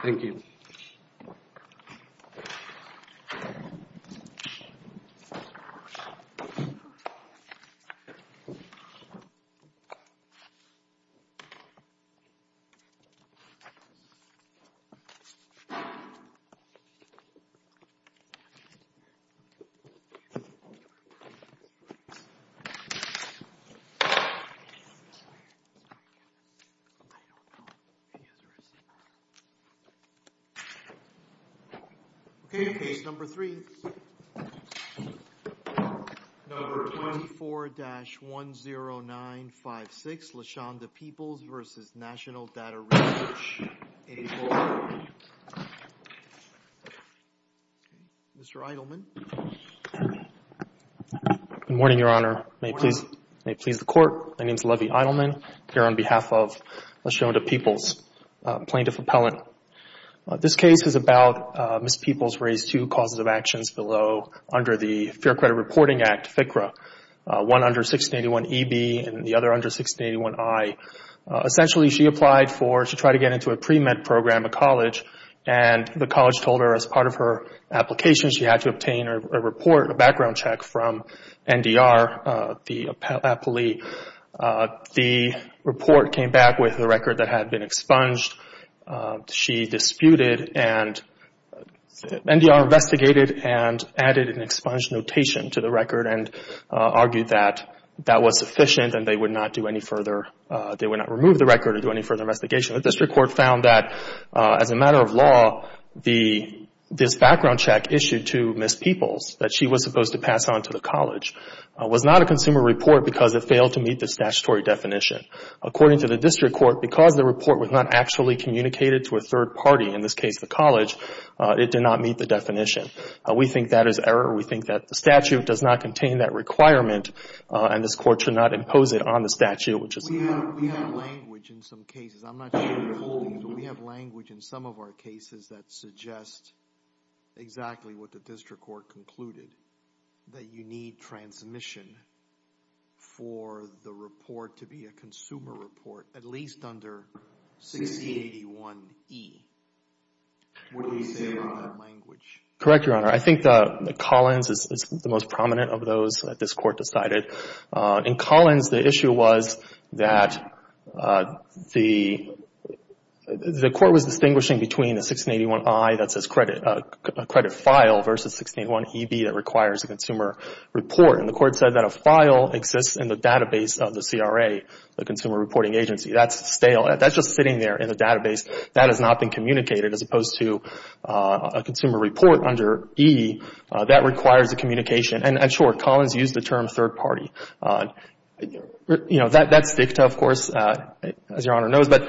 Thank you. Okay, case number three. Number 24-10956, Lashonda Peeples v. National Data Research, 84. Mr. Eidelman. Good morning, Your Honor. Good morning. May it please the Court, my name is Levy Eidelman. I'm here on behalf of Lashonda Peeples, plaintiff appellant. This case is about Ms. Peeples' raised two causes of actions below under the Fair Credit Reporting Act, FCRA. One under 1681EB and the other under 1681I. Essentially, she applied to try to get into a pre-med program at college, and the college told her as part of her application she had to obtain a report, a background check, from NDR, the appellee. The report came back with a record that had been expunged. She disputed and NDR investigated and added an expunged notation to the record and argued that that was sufficient and they would not do any further, they would not remove the record or do any further investigation. The district court found that as a matter of law, this background check issued to Ms. Peeples, that she was supposed to pass on to the college, was not a consumer report because it failed to meet the statutory definition. According to the district court, because the report was not actually communicated to a third party, in this case the college, it did not meet the definition. We think that is error. We think that the statute does not contain that requirement, and this court should not impose it on the statute. We have language in some cases, I'm not sure you're holding, but we have language in some of our cases that suggest exactly what the district court concluded, that you need transmission for the report to be a consumer report, at least under 1681E. What do you say about that language? Correct, Your Honor. I think that Collins is the most prominent of those that this court decided. In Collins, the issue was that the court was distinguishing between a 1681I that says credit file versus 1681EB that requires a consumer report, and the court said that a file exists in the database of the CRA, the Consumer Reporting Agency. That's stale. That's just sitting there in the database. That has not been communicated, as opposed to a consumer report under E that requires a communication. And, sure, Collins used the term third party. You know, that's ficta, of course, as Your Honor knows, but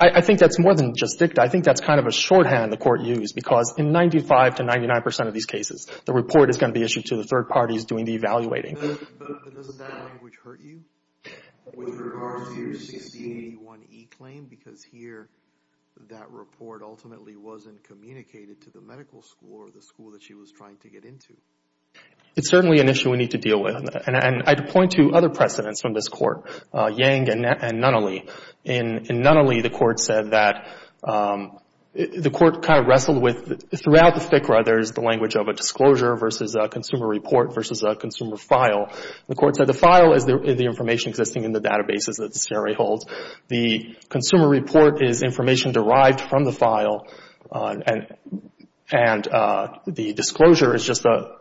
I think that's more than just ficta. I think that's kind of a shorthand the court used, because in 95 to 99 percent of these cases, the report is going to be issued to the third parties doing the evaluating. But doesn't that language hurt you with regards to your 1681E claim? Because here that report ultimately wasn't communicated to the medical school or the school that she was trying to get into. It's certainly an issue we need to deal with. And I'd point to other precedents from this court, Yang and Nunnally. In Nunnally, the court said that the court kind of wrestled with, throughout the ficta there is the language of a disclosure versus a consumer report versus a consumer file. The court said the file is the information existing in the databases that the CRA holds. The consumer report is information derived from the file, and the disclosure is just the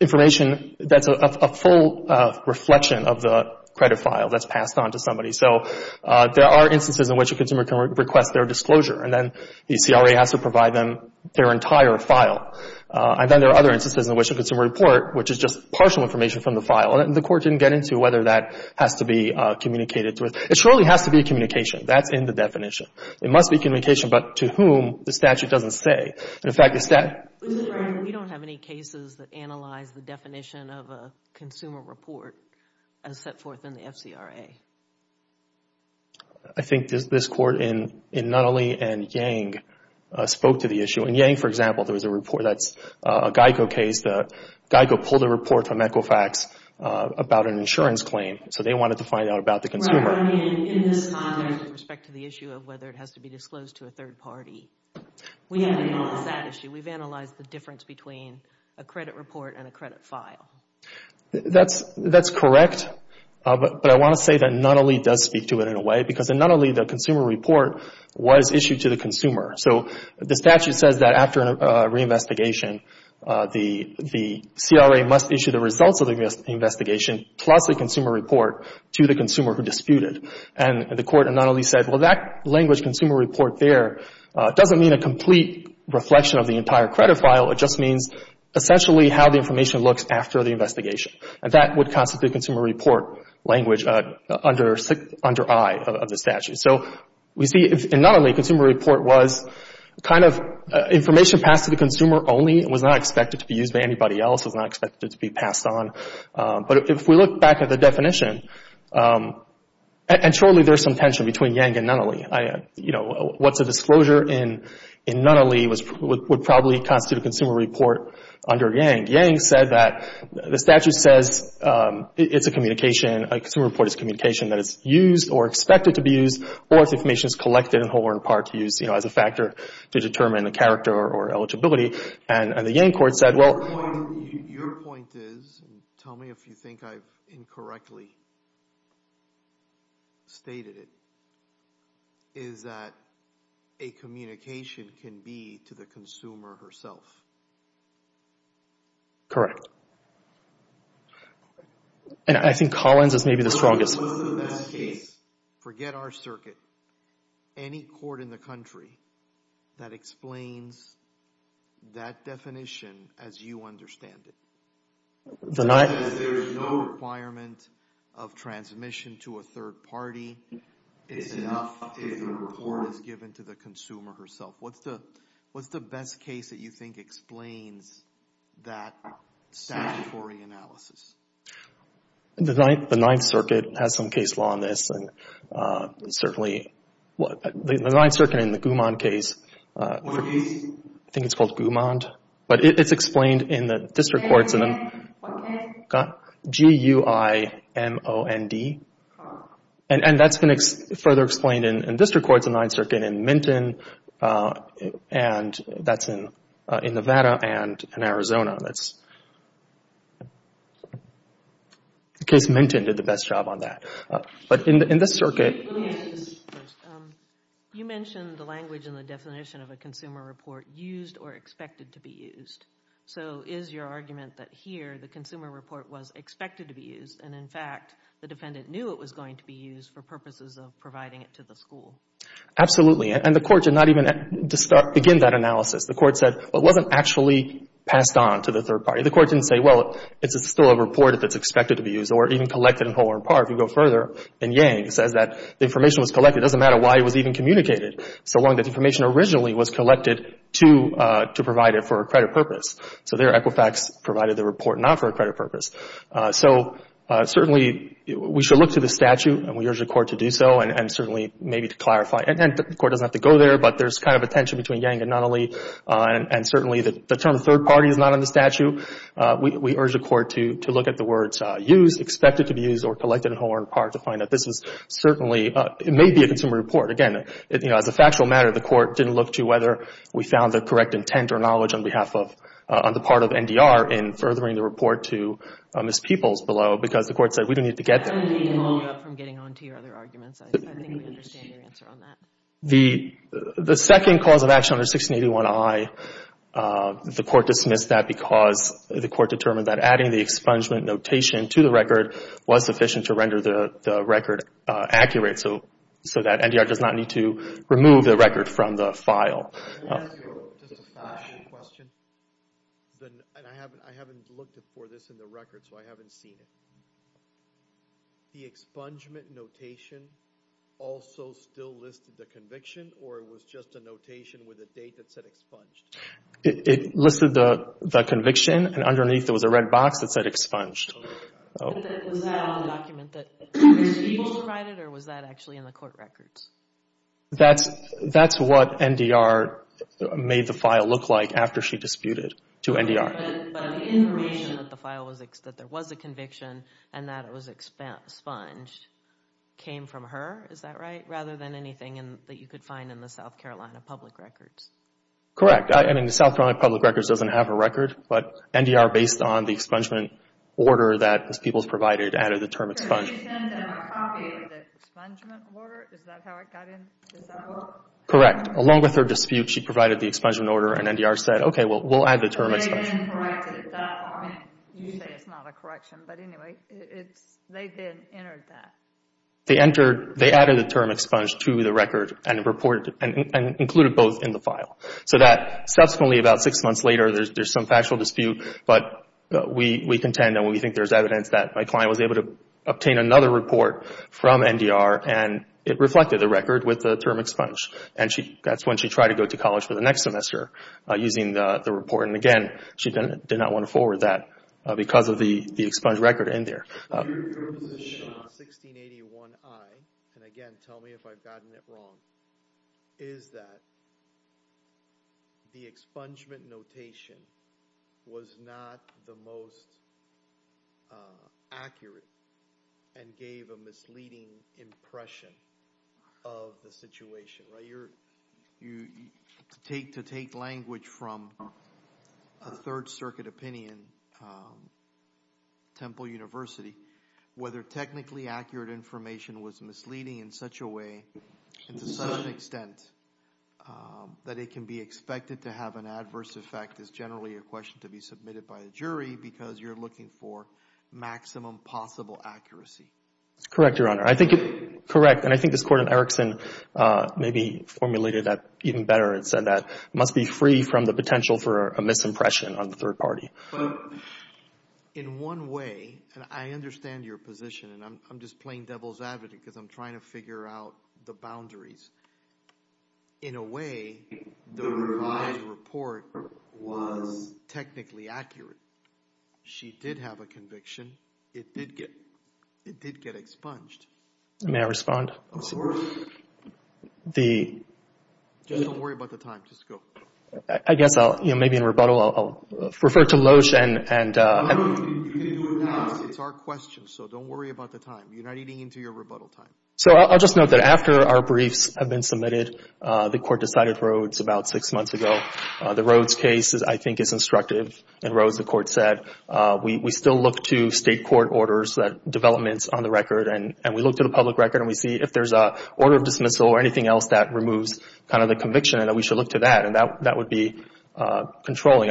information that's a full reflection of the credit file that's passed on to somebody. So there are instances in which a consumer can request their disclosure, and then the CRA has to provide them their entire file. And then there are other instances in which a consumer report, which is just partial information from the file, and the court didn't get into whether that has to be communicated with. It surely has to be a communication. That's in the definition. It must be communication, but to whom the statute doesn't say. In fact, the statute... We don't have any cases that analyze the definition of a consumer report as set forth in the FCRA. I think this court in Nunnally and Yang spoke to the issue. In Yang, for example, there was a report that's a Geico case. Geico pulled a report from Equifax about an insurance claim, so they wanted to find out about the consumer. In this context, with respect to the issue of whether it has to be disclosed to a third party, we haven't analyzed that issue. We've analyzed the difference between a credit report and a credit file. That's correct, but I want to say that Nunnally does speak to it in a way, because in Nunnally, the consumer report was issued to the consumer. So the statute says that after a reinvestigation, the CRA must issue the results of the investigation plus a consumer report to the consumer who disputed. And the court in Nunnally said, well, that language, consumer report there, doesn't mean a complete reflection of the entire credit file. It just means essentially how the information looks after the investigation. And that would constitute consumer report language under I of the statute. So we see in Nunnally, consumer report was kind of information passed to the consumer only and was not expected to be used by anybody else, was not expected to be passed on. But if we look back at the definition, and surely there's some tension between Yang and Nunnally. What's a disclosure in Nunnally would probably constitute a consumer report under Yang. Yang said that the statute says it's a communication, a consumer report is a communication that is used or expected to be used or if information is collected in whole or in part to use as a factor to determine a character or eligibility. And the Yang court said, well. Your point is, tell me if you think I've incorrectly stated it, is that a communication can be to the consumer herself. Correct. And I think Collins is maybe the strongest. Forget our circuit. Any court in the country that explains that definition as you understand it. There is no requirement of transmission to a third party. It's enough if the report is given to the consumer herself. What's the best case that you think explains that statutory analysis? The Ninth Circuit has some case law on this. And certainly the Ninth Circuit in the Gumond case, I think it's called Gumond. But it's explained in the district courts. G-U-I-M-O-N-D. And that's been further explained in district courts, the Ninth Circuit in Minton, and that's in Nevada and in Arizona. That's the case Minton did the best job on that. But in the circuit. You mentioned the language and the definition of a consumer report used or expected to be used. So is your argument that here the consumer report was expected to be used, and in fact the defendant knew it was going to be used for purposes of providing it to the school? Absolutely. And the court did not even begin that analysis. The court said, well, it wasn't actually passed on to the third party. The court didn't say, well, it's still a report if it's expected to be used or even collected in whole or in part. If you go further, in Yang, it says that the information was collected. It doesn't matter why it was even communicated, so long as the information originally was collected to provide it for a credit purpose. So there Equifax provided the report not for a credit purpose. So certainly we should look to the statute, and we urge the court to do so, and certainly maybe to clarify. And the court doesn't have to go there, but there's kind of a tension between Yang and Nunnally, and certainly the term third party is not on the statute. We urge the court to look at the words used, expected to be used, or collected in whole or in part, to find that this was certainly, it may be a consumer report. Again, as a factual matter, the court didn't look to whether we found the correct intent or knowledge on behalf of, on the part of NDR in furthering the report to Ms. Peoples below, because the court said we didn't need to get there. I'm getting on to your other arguments. I think we understand your answer on that. The second cause of action under 1681I, the court dismissed that because the court determined that adding the expungement notation to the record was sufficient to render the record accurate, so that NDR does not need to remove the record from the file. Can I ask you just a factual question? I haven't looked for this in the record, so I haven't seen it. The expungement notation also still listed the conviction, or it was just a notation with a date that said expunged? It listed the conviction, and underneath it was a red box that said expunged. Was that on the document that Ms. Peoples provided, or was that actually in the court records? That's what NDR made the file look like after she disputed to NDR. But the information that there was a conviction and that it was expunged came from her? Is that right? Rather than anything that you could find in the South Carolina public records? Correct. I mean, the South Carolina public records doesn't have a record, but NDR, based on the expungement order that Ms. Peoples provided, added the term expunged. Did she send them a copy of the expungement order? Is that how it got in? Is that what? Correct. Along with her dispute, she provided the expungement order, and NDR said, okay, we'll add the term expunged. They didn't correct it. You say it's not a correction, but anyway, they did enter that. They added the term expunged to the record and included both in the file. So that subsequently, about six months later, there's some factual dispute, but we contend and we think there's evidence that my client was able to obtain another report from NDR, and it reflected the record with the term expunged. That's when she tried to go to college for the next semester using the report, and again, she did not want to forward that because of the expunged record in there. Your position on 1681I, and again, tell me if I've gotten it wrong, is that the expungement notation was not the most accurate and gave a misleading impression of the situation, right? To take language from a Third Circuit opinion, Temple University, whether technically accurate information was misleading in such a way and to such an extent that it can be expected to have an adverse effect is generally a question to be submitted by a jury because you're looking for maximum possible accuracy. That's correct, Your Honor. I think it's correct, and I think this Court in Erickson maybe formulated that even better and said that it must be free from the potential for a misimpression on the third party. But in one way, and I understand your position, and I'm just playing devil's advocate because I'm trying to figure out the boundaries. In a way, the revised report was technically accurate. She did have a conviction. It did get expunged. May I respond? Just don't worry about the time. Just go. I guess maybe in rebuttal I'll refer to Loesch and You can do it now. It's our question, so don't worry about the time. You're not eating into your rebuttal time. So I'll just note that after our briefs have been submitted, the Court decided Rhodes about six months ago. The Rhodes case, I think, is instructive. In Rhodes, the Court said we still look to state court orders, developments on the record, and we looked at a public record, and we see if there's an order of dismissal or anything else that removes kind of the conviction and that we should look to that, and that would be controlling.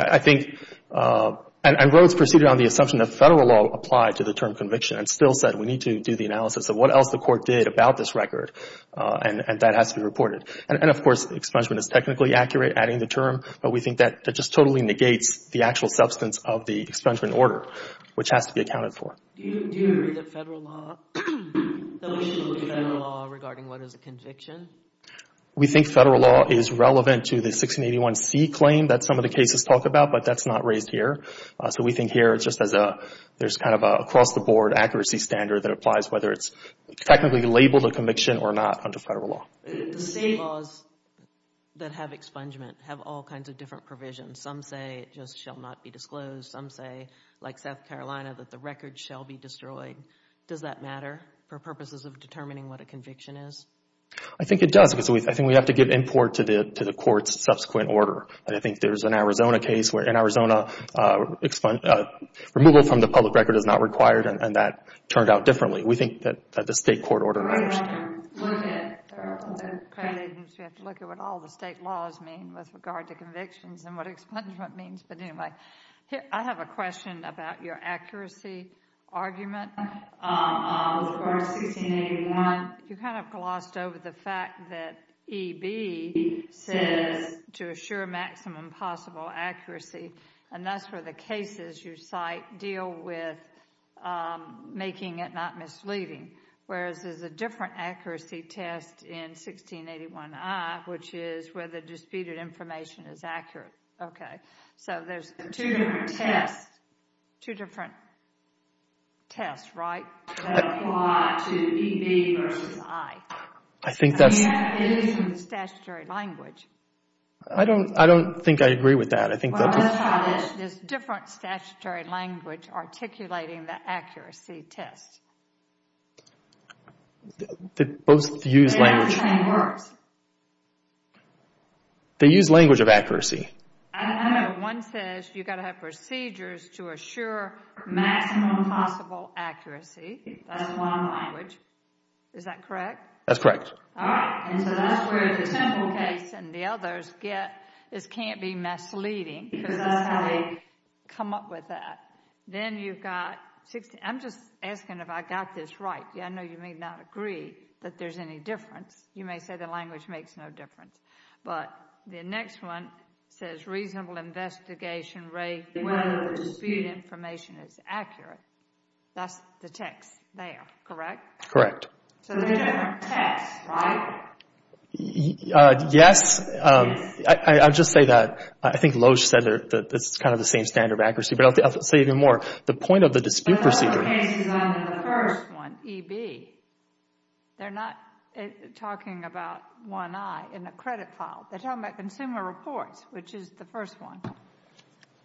And Rhodes proceeded on the assumption that federal law applied to the term conviction and still said we need to do the analysis of what else the Court did about this record, and that has to be reported. And, of course, expungement is technically accurate. We're adding the term, but we think that just totally negates the actual substance of the expungement order, which has to be accounted for. Do you agree that federal law, that we should look to federal law regarding what is a conviction? We think federal law is relevant to the 1681C claim that some of the cases talk about, but that's not raised here. So we think here it's just as a – there's kind of an across-the-board accuracy standard that applies whether it's technically labeled a conviction or not under federal law. The state laws that have expungement have all kinds of different provisions. Some say it just shall not be disclosed. Some say, like South Carolina, that the record shall be destroyed. Does that matter for purposes of determining what a conviction is? I think it does because I think we have to give import to the Court's subsequent order, and I think there's an Arizona case where in Arizona, removal from the public record is not required, and that turned out differently. We think that the state court order matters. We have to look at what all the state laws mean with regard to convictions and what expungement means, but anyway. I have a question about your accuracy argument with regard to 1681. You kind of glossed over the fact that EB says to assure maximum possible accuracy, and that's where the cases you cite deal with making it not misleading, whereas there's a different accuracy test in 1681I, which is where the disputed information is accurate. Okay, so there's two different tests, right, that apply to EB versus I. I don't think I agree with that. Well, that's how it is. There's different statutory language articulating the accuracy test. They both use language. They both contain words. They use language of accuracy. I know. One says you've got to have procedures to assure maximum possible accuracy. That's one language. Is that correct? That's correct. All right, and so that's where the Temple case and the others get this can't be misleading because that's how they come up with that. Then you've got 16—I'm just asking if I got this right. I know you may not agree that there's any difference. You may say the language makes no difference. But the next one says reasonable investigation rate, whether the disputed information is accurate. That's the text there, correct? Correct. So they're different tests, right? Yes. I'll just say that. I think Loesch said that it's kind of the same standard of accuracy. But I'll say even more, the point of the dispute procedure— But the Temple case is under the first one, EB. They're not talking about 1I in the credit file. They're talking about consumer reports, which is the first one,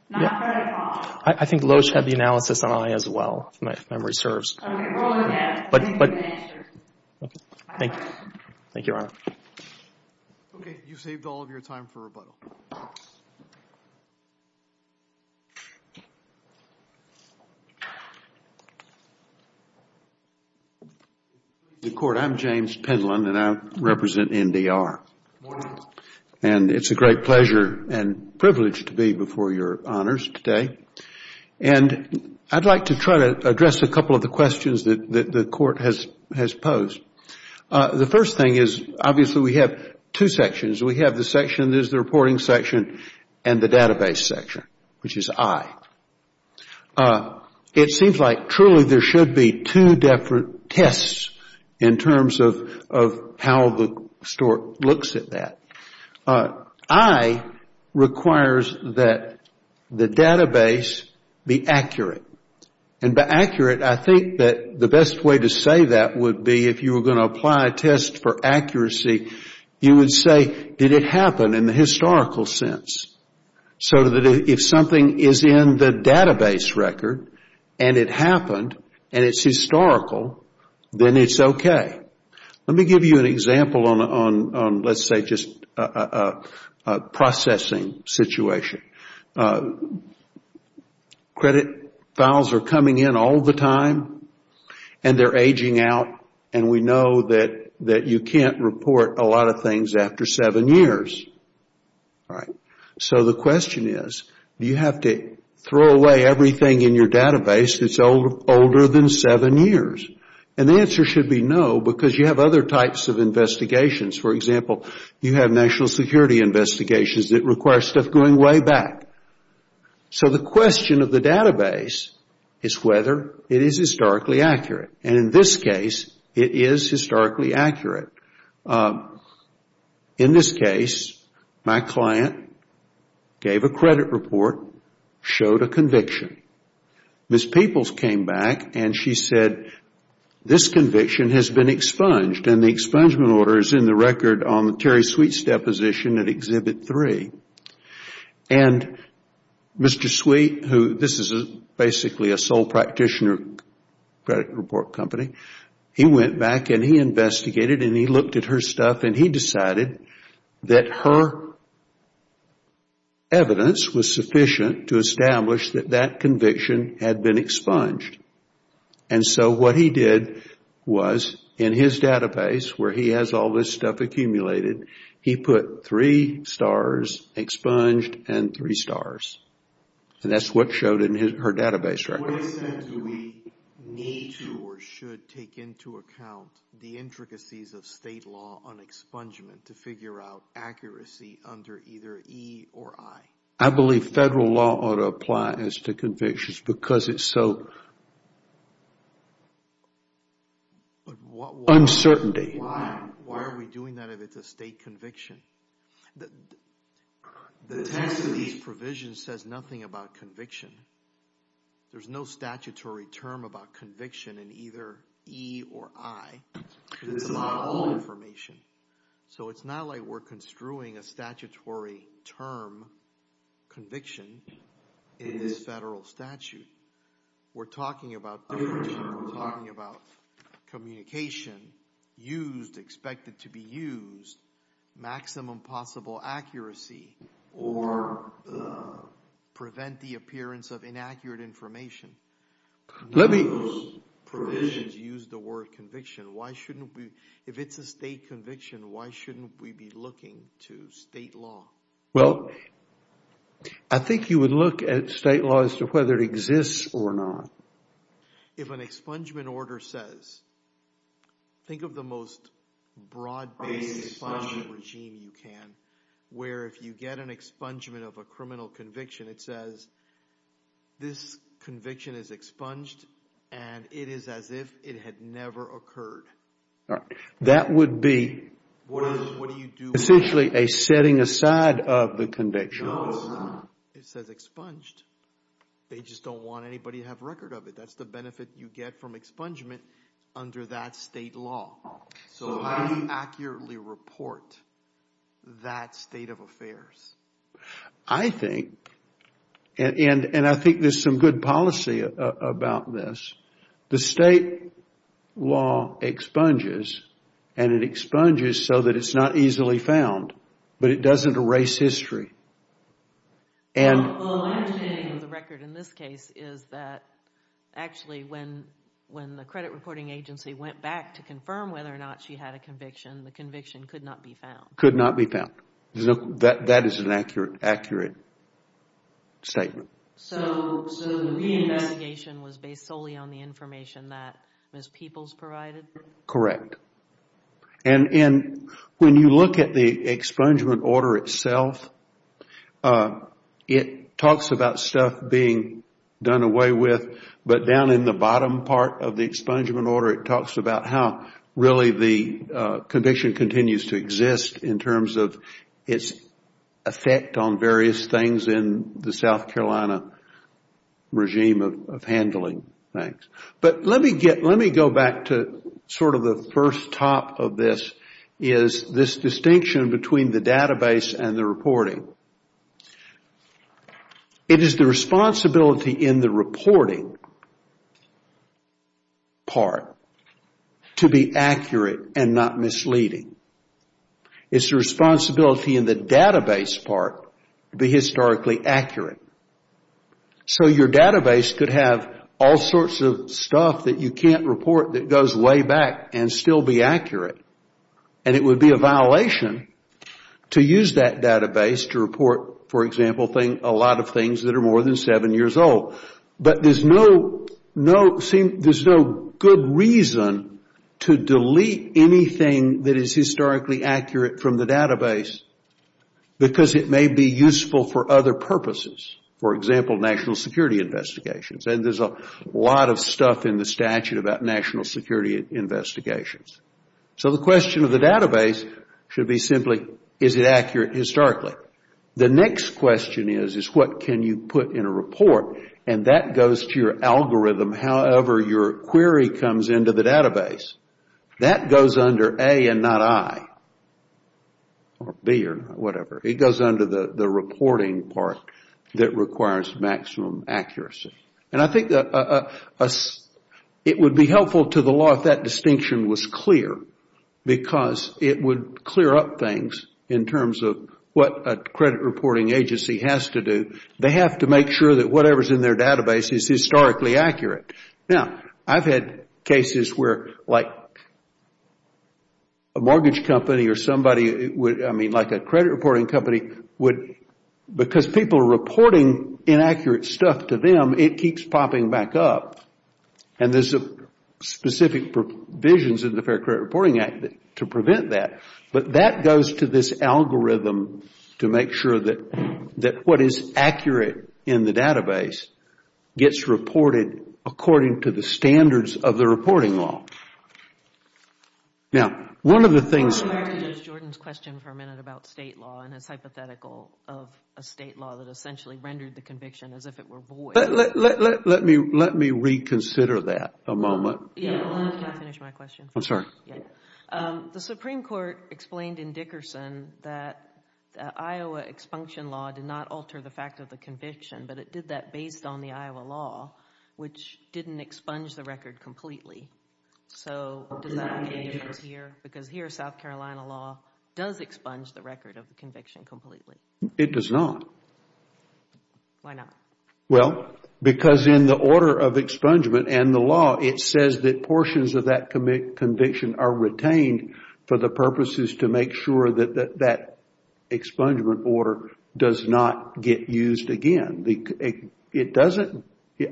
not credit file. I think Loesch had the analysis on I as well, if memory serves. Okay, roll it again. I think we've been answered. Okay. Thank you, Your Honor. Okay. You've saved all of your time for rebuttal. The Court, I'm James Penland, and I represent NDR. Good morning. And it's a great pleasure and privilege to be before Your Honors today. And I'd like to try to address a couple of the questions that the Court has posed. The first thing is obviously we have two sections. We have the section that is the reporting section and the database section, which is I. It seems like truly there should be two different tests in terms of how the store looks at that. I requires that the database be accurate. And by accurate, I think that the best way to say that would be if you were going to apply a test for accuracy, you would say, did it happen in the historical sense? So that if something is in the database record and it happened and it's historical, then it's okay. Let me give you an example on, let's say, just a processing situation. Credit files are coming in all the time, and they're aging out, and we know that you can't report a lot of things after seven years. So the question is, do you have to throw away everything in your database that's older than seven years? And the answer should be no, because you have other types of investigations. For example, you have national security investigations that require stuff going way back. So the question of the database is whether it is historically accurate. And in this case, it is historically accurate. In this case, my client gave a credit report, showed a conviction. Ms. Peoples came back and she said, this conviction has been expunged, and the expungement order is in the record on Terry Sweet's deposition at Exhibit 3. And Mr. Sweet, who this is basically a sole practitioner credit report company, he went back and he investigated and he looked at her stuff, and he decided that her evidence was sufficient to establish that that conviction had been expunged. And so what he did was, in his database where he has all this stuff accumulated, he put three stars, expunged, and three stars. And that's what showed in her database record. What extent do we need to or should take into account the intricacies of state law on expungement to figure out accuracy under either E or I? I believe federal law ought to apply as to convictions because it's so uncertainty. Why are we doing that if it's a state conviction? The text of these provisions says nothing about conviction. There's no statutory term about conviction in either E or I. It's about all information. So it's not like we're construing a statutory term conviction in this federal statute. We're talking about communication, used, expected to be used, maximum possible accuracy, or prevent the appearance of inaccurate information. None of those provisions use the word conviction. If it's a state conviction, why shouldn't we be looking to state law? Well, I think you would look at state law as to whether it exists or not. If an expungement order says, think of the most broad-based expungement regime you can, where if you get an expungement of a criminal conviction, it says this conviction is expunged and it is as if it had never occurred. That would be essentially a setting aside of the conviction. No, it's not. It says expunged. They just don't want anybody to have record of it. That's the benefit you get from expungement under that state law. So how do you accurately report that state of affairs? I think, and I think there's some good policy about this. The state law expunges, and it expunges so that it's not easily found, but it doesn't erase history. Well, my understanding of the record in this case is that actually when the credit reporting agency went back to confirm whether or not she had a conviction, the conviction could not be found. Could not be found. That is an accurate statement. So the reinvestigation was based solely on the information that Ms. Peoples provided? Correct. And when you look at the expungement order itself, it talks about stuff being done away with, but down in the bottom part of the expungement order, it talks about how really the conviction continues to exist in terms of its effect on various things in the South Carolina regime of handling things. Thanks. But let me go back to sort of the first top of this is this distinction between the database and the reporting. It is the responsibility in the reporting part to be accurate and not misleading. It's the responsibility in the database part to be historically accurate. So your database could have all sorts of stuff that you can't report that goes way back and still be accurate, and it would be a violation to use that database to report, for example, a lot of things that are more than seven years old. But there's no good reason to delete anything that is historically accurate from the database because it may be useful for other purposes, for example, national security investigations. And there's a lot of stuff in the statute about national security investigations. So the question of the database should be simply, is it accurate historically? The next question is, is what can you put in a report? And that goes to your algorithm, however your query comes into the database. That goes under A and not I, or B or whatever. It goes under the reporting part that requires maximum accuracy. And I think it would be helpful to the law if that distinction was clear because it would clear up things in terms of what a credit reporting agency has to do. They have to make sure that whatever is in their database is historically accurate. Now, I've had cases where a mortgage company or a credit reporting company, because people are reporting inaccurate stuff to them, it keeps popping back up. And there are specific provisions in the Fair Credit Reporting Act to prevent that. But that goes to this algorithm to make sure that what is accurate in the database gets reported according to the standards of the reporting law. Now, one of the things... I want to go back to Judge Jordan's question for a minute about state law and his hypothetical of a state law that essentially rendered the conviction as if it were void. Let me reconsider that a moment. Yeah, I'll let you finish my question. I'm sorry. The Supreme Court explained in Dickerson that Iowa expunction law did not alter the fact of the conviction, but it did that based on the Iowa law, which didn't expunge the record completely. So does that make any difference here? Because here, South Carolina law does expunge the record of the conviction completely. It does not. Why not? Well, because in the order of expungement and the law, it says that portions of that conviction are retained for the purposes to make sure that that expungement order does not get used again. It doesn't...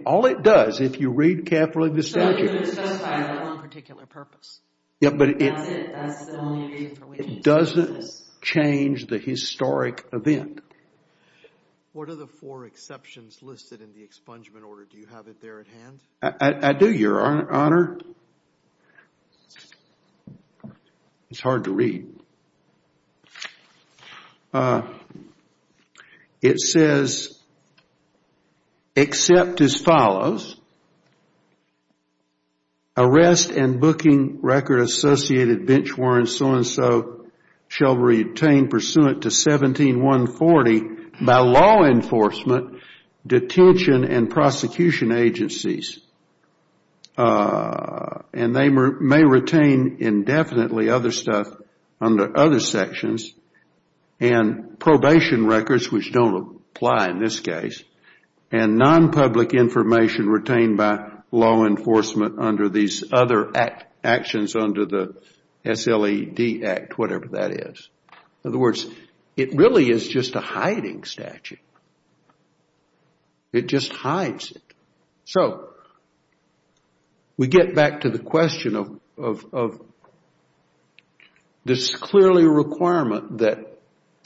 All it does, if you read carefully the statute... So it was just for one particular purpose. Yeah, but it... That's it. That's the only reason. It doesn't change the historic event. What are the four exceptions listed in the expungement order? Do you have it there at hand? I do, Your Honor. Your Honor? It's hard to read. It says, except as follows. Arrest and booking record associated bench warrants, so and so, shall retain pursuant to 17140 by law enforcement, detention and prosecution agencies. And they may retain indefinitely other stuff under other sections. And probation records, which don't apply in this case. And non-public information retained by law enforcement under these other actions under the SLED Act, whatever that is. In other words, it really is just a hiding statute. It just hides it. So we get back to the question of this clearly requirement that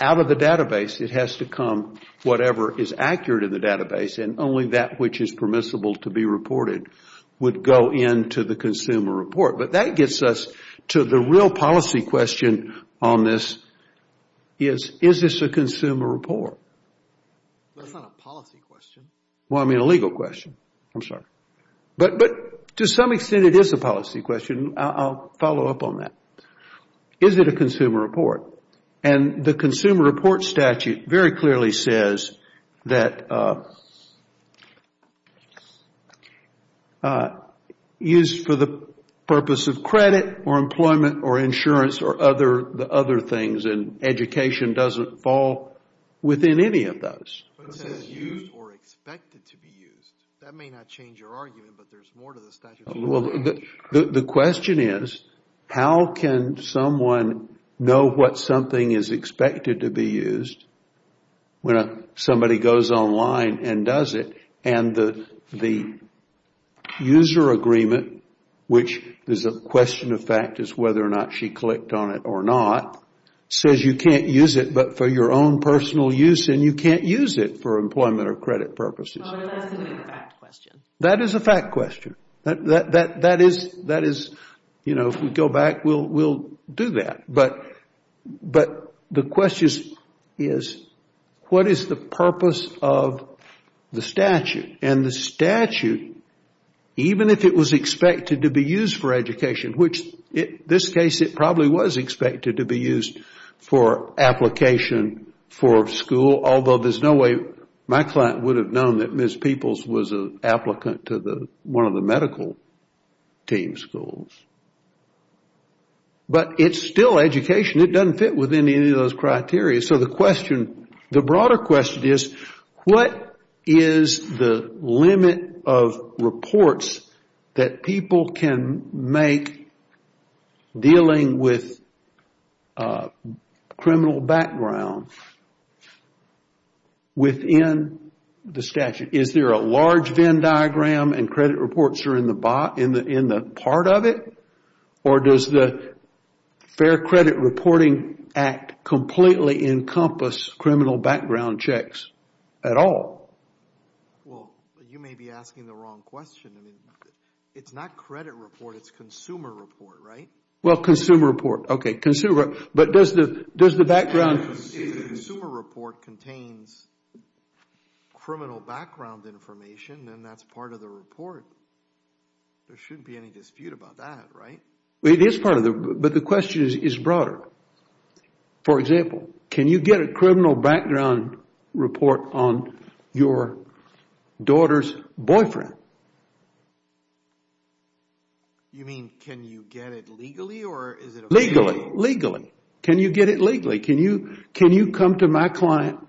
out of the database it has to come whatever is accurate in the database and only that which is permissible to be reported would go into the consumer report. But that gets us to the real policy question on this. Is this a consumer report? That's not a policy question. Well, I mean a legal question. I'm sorry. But to some extent it is a policy question. I'll follow up on that. Is it a consumer report? And the consumer report statute very clearly says that used for the purpose of credit or employment or insurance or other things and education doesn't fall within any of those. Used or expected to be used. That may not change your argument, but there's more to the statute. The question is how can someone know what something is expected to be used when somebody goes online and does it and the user agreement, which is a question of fact is whether or not she clicked on it or not, says you can't use it but for your own personal use and you can't use it for employment or credit purposes. That is a fact question. If we go back, we'll do that. But the question is what is the purpose of the statute? And the statute, even if it was expected to be used for education, which in this case it probably was expected to be used for application for school, although there's no way my client would have known that Ms. Peoples was an applicant to one of the medical team schools. But it's still education. It doesn't fit within any of those criteria. So the question, the broader question is what is the limit of reports that people can make dealing with criminal background within the statute? Is there a large VIN diagram and credit reports are in the part of it? Or does the Fair Credit Reporting Act completely encompass criminal background checks at all? Well, you may be asking the wrong question. It's not credit report, it's consumer report, right? Well, consumer report. Okay, consumer. But does the background... If the consumer report contains criminal background information, then that's part of the report. There shouldn't be any dispute about that, right? It is part of the... But the question is broader. For example, can you get a criminal background report on your daughter's boyfriend? You mean, can you get it legally or is it... Legally. Can you get it legally? Can you come to my client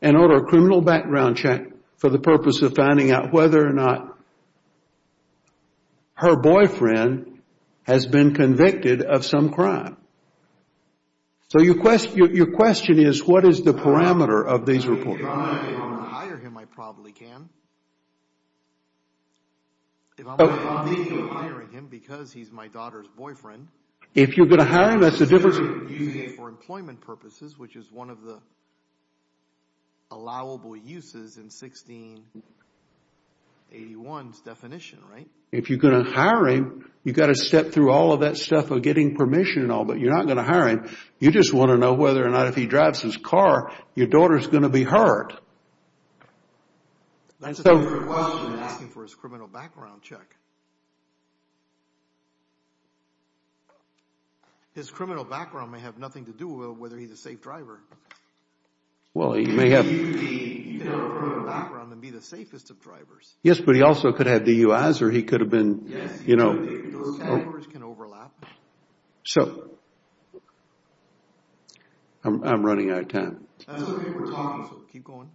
and order a criminal background check for the purpose of finding out whether or not her boyfriend has been convicted of some crime? So your question is what is the parameter of these reports? If I can hire him, I probably can. If I'm legally hiring him because he's my daughter's boyfriend... If you're going to hire him, that's a different... ...using it for employment purposes, which is one of the allowable uses in 1681's definition, right? If you're going to hire him, you've got to step through all of that stuff of getting permission and all, but you're not going to hire him. You just want to know whether or not if he drives his car, your daughter's going to be hurt. That's a different question than asking for his criminal background check. His criminal background may have nothing to do with whether he's a safe driver. Well, he may have... He could have a criminal background and be the safest of drivers. Yes, but he also could have DUIs or he could have been... Yes, he could have been. Those categories can overlap. So... I'm running out of time. That's what we were talking about. Keep going.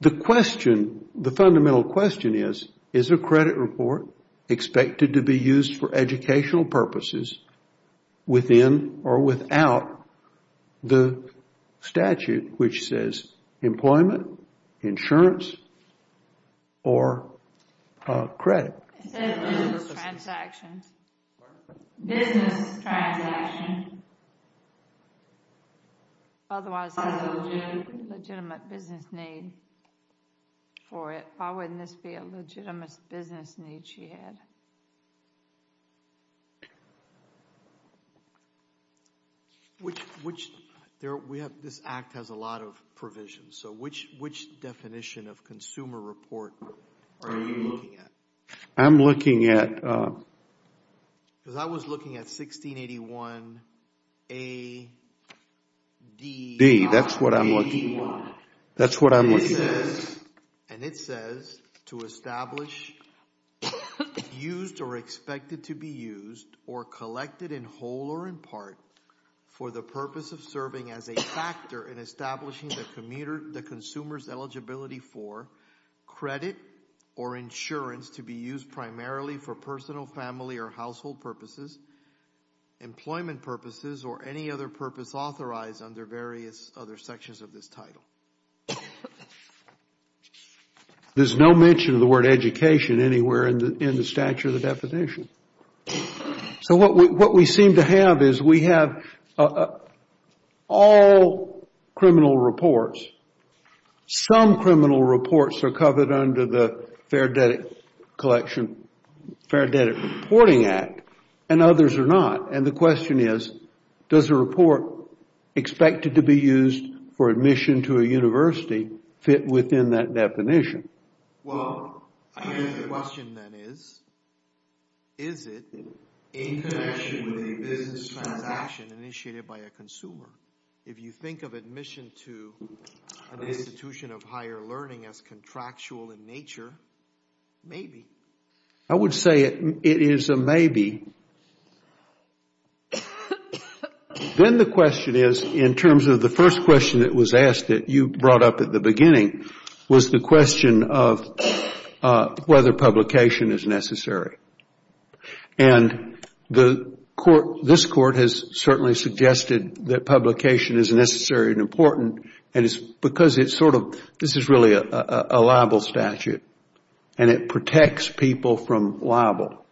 The question, the fundamental question is, is a credit report expected to be used for educational purposes within or without the statute, which says employment, insurance, or credit? It says business transaction. Business transaction. Otherwise, there's a legitimate business need for it. Why wouldn't this be a legitimate business need she had? This act has a lot of provisions. So which definition of consumer report are you looking at? I'm looking at... Because I was looking at 1681 AD. That's what I'm looking at. AD1. That's what I'm looking at. And it says to establish used or expected to be used or collected in whole or in part for the purpose of serving as a factor in establishing the consumer's eligibility for credit or insurance to be used primarily for personal, family, or household purposes, employment purposes, or any other purpose authorized under various other sections of this title. There's no mention of the word education anywhere in the statute or the definition. So what we seem to have is we have all criminal reports. Some criminal reports are covered under the Fair Debt Collection, Fair Debt Reporting Act, and others are not. And the question is, does a report expected to be used for admission to a university fit within that definition? Well, I guess the question then is, is it in connection with a business transaction initiated by a consumer? If you think of admission to an institution of higher learning as contractual in nature, maybe. I would say it is a maybe. Then the question is, in terms of the first question that was asked that you brought up at the beginning, was the question of whether publication is necessary. And this court has certainly suggested that publication is necessary and important because this is really a liable statute and it protects people from liable.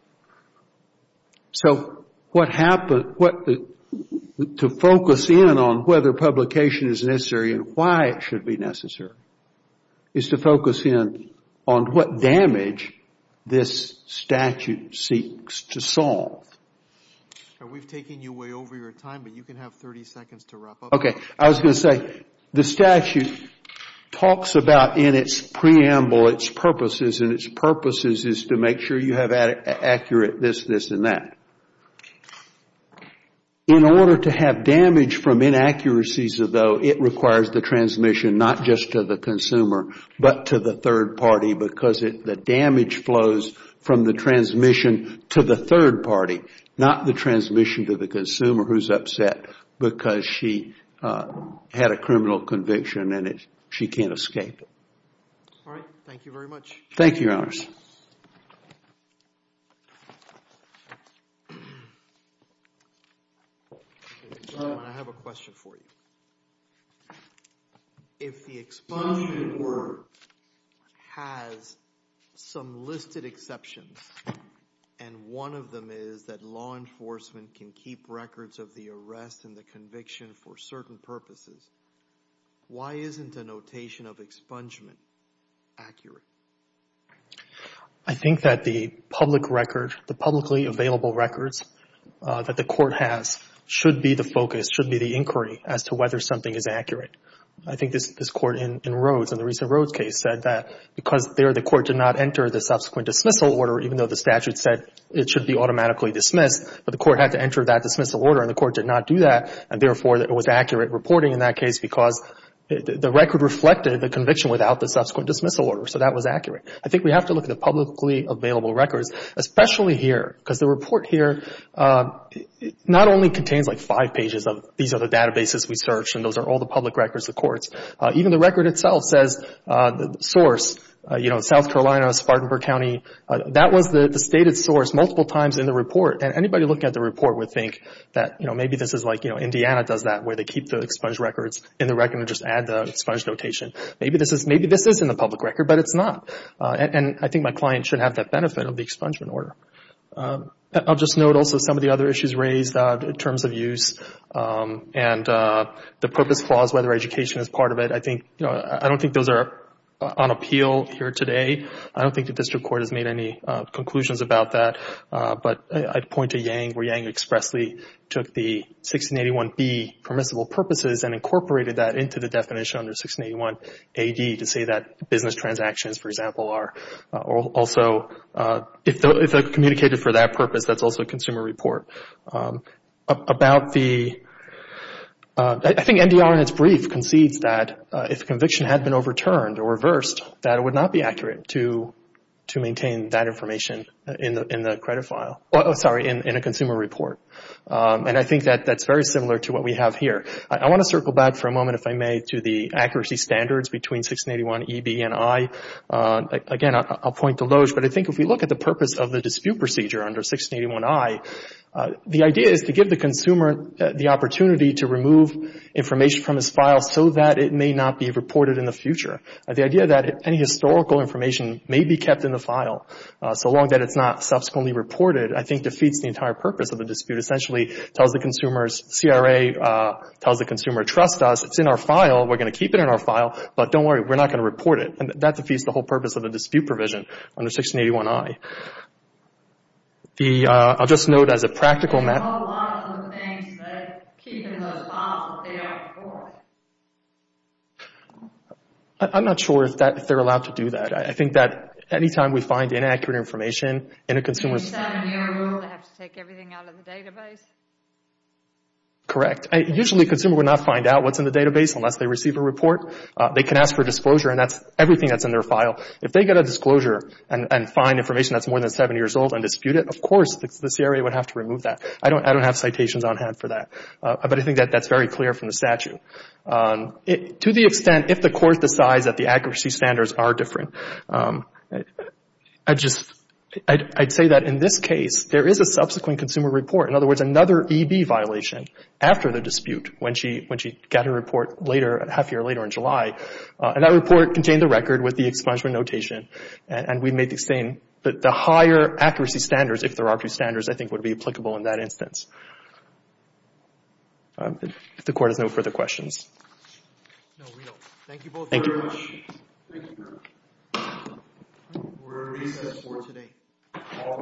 To focus in on whether publication is necessary and why it should be necessary is to focus in on what damage this statute seeks to solve. We have taken you way over your time, but you can have 30 seconds to wrap up. I was going to say the statute talks about in its preamble its purposes and its purposes is to make sure you have accurate this, this, and that. In order to have damage from inaccuracies, though, it requires the transmission not just to the consumer, but to the third party because the damage flows from the transmission to the third party, not the transmission to the consumer who is upset because she had a criminal conviction and she can't escape it. All right. Thank you very much. Thank you, Your Honors. I have a question for you. If the expungement report has some listed exceptions and one of them is that law enforcement can keep records of the arrest and the conviction for certain purposes, why isn't a notation of expungement accurate? I think that the public record, the publicly available records that the court has should be the focus, should be the inquiry as to whether something is accurate. I think this Court in Rhodes, in the recent Rhodes case, said that because there the court did not enter the subsequent dismissal order, even though the statute said it should be automatically dismissed, but the court had to enter that dismissal order and the court did not do that and therefore it was accurate reporting in that case because the record reflected the conviction without the subsequent dismissal order, so that was accurate. I think we have to look at the publicly available records, especially here, because the report here not only contains like five pages of these other databases we searched and those are all the public records of courts, even the record itself says the source, you know, South Carolina, Spartanburg County, that was the stated source multiple times in the report and anybody looking at the report would think that, you know, maybe this is like, you know, Indiana does that where they keep the expunged records in the record and just add the expunged notation. Maybe this is in the public record, but it's not. And I think my client should have that benefit of the expungement order. I'll just note also some of the other issues raised in terms of use and the purpose clause, whether education is part of it, I think, you know, I don't think those are on appeal here today. I don't think the district court has made any conclusions about that, but I'd point to Yang where Yang expressly took the 1681B permissible purposes and incorporated that into the definition under 1681AD to say that business transactions, for example, are also, if they're communicated for that purpose, that's also a consumer report. About the, I think NDR in its brief concedes that if conviction had been overturned or reversed, that it would not be accurate to maintain that information in the credit file. Oh, sorry, in a consumer report. And I think that that's very similar to what we have here. I want to circle back for a moment, if I may, to the accuracy standards between 1681EB and I. Again, I'll point to Loge, but I think if we look at the purpose of the dispute procedure under 1681I, the idea is to give the consumer the opportunity to remove information from his file so that it may not be reported in the future. The idea that any historical information may be kept in the file so long that it's not subsequently reported, I think defeats the entire purpose of the dispute. Essentially, it tells the consumers, CRA tells the consumer, trust us, it's in our file, we're going to keep it in our file, but don't worry, we're not going to report it. And that defeats the whole purpose of the dispute provision under 1681I. I'll just note as a practical matter. There are a lot of things that keep it in those files that they don't report. I'm not sure if they're allowed to do that. I think that any time we find inaccurate information in a consumer's... In a 7-year rule, they have to take everything out of the database? Correct. Usually, a consumer would not find out what's in the database unless they receive a report. They can ask for disclosure, and that's everything that's in their file. If they get a disclosure and find information that's more than 7 years old and dispute it, of course, the CRA would have to remove that. I don't have citations on hand for that. But I think that that's very clear from the statute. To the extent, if the court decides that the accuracy standards are different, I'd say that in this case, there is a subsequent consumer report. In other words, another EB violation after the dispute, when she got her report later, and that report contained the record with the expungement notation, and we made the same. But the higher accuracy standards, if there are a few standards, I think would be applicable in that instance. If the court has no further questions. No, we don't. Thank you both very much. Thank you. We're recessed for today. All rise.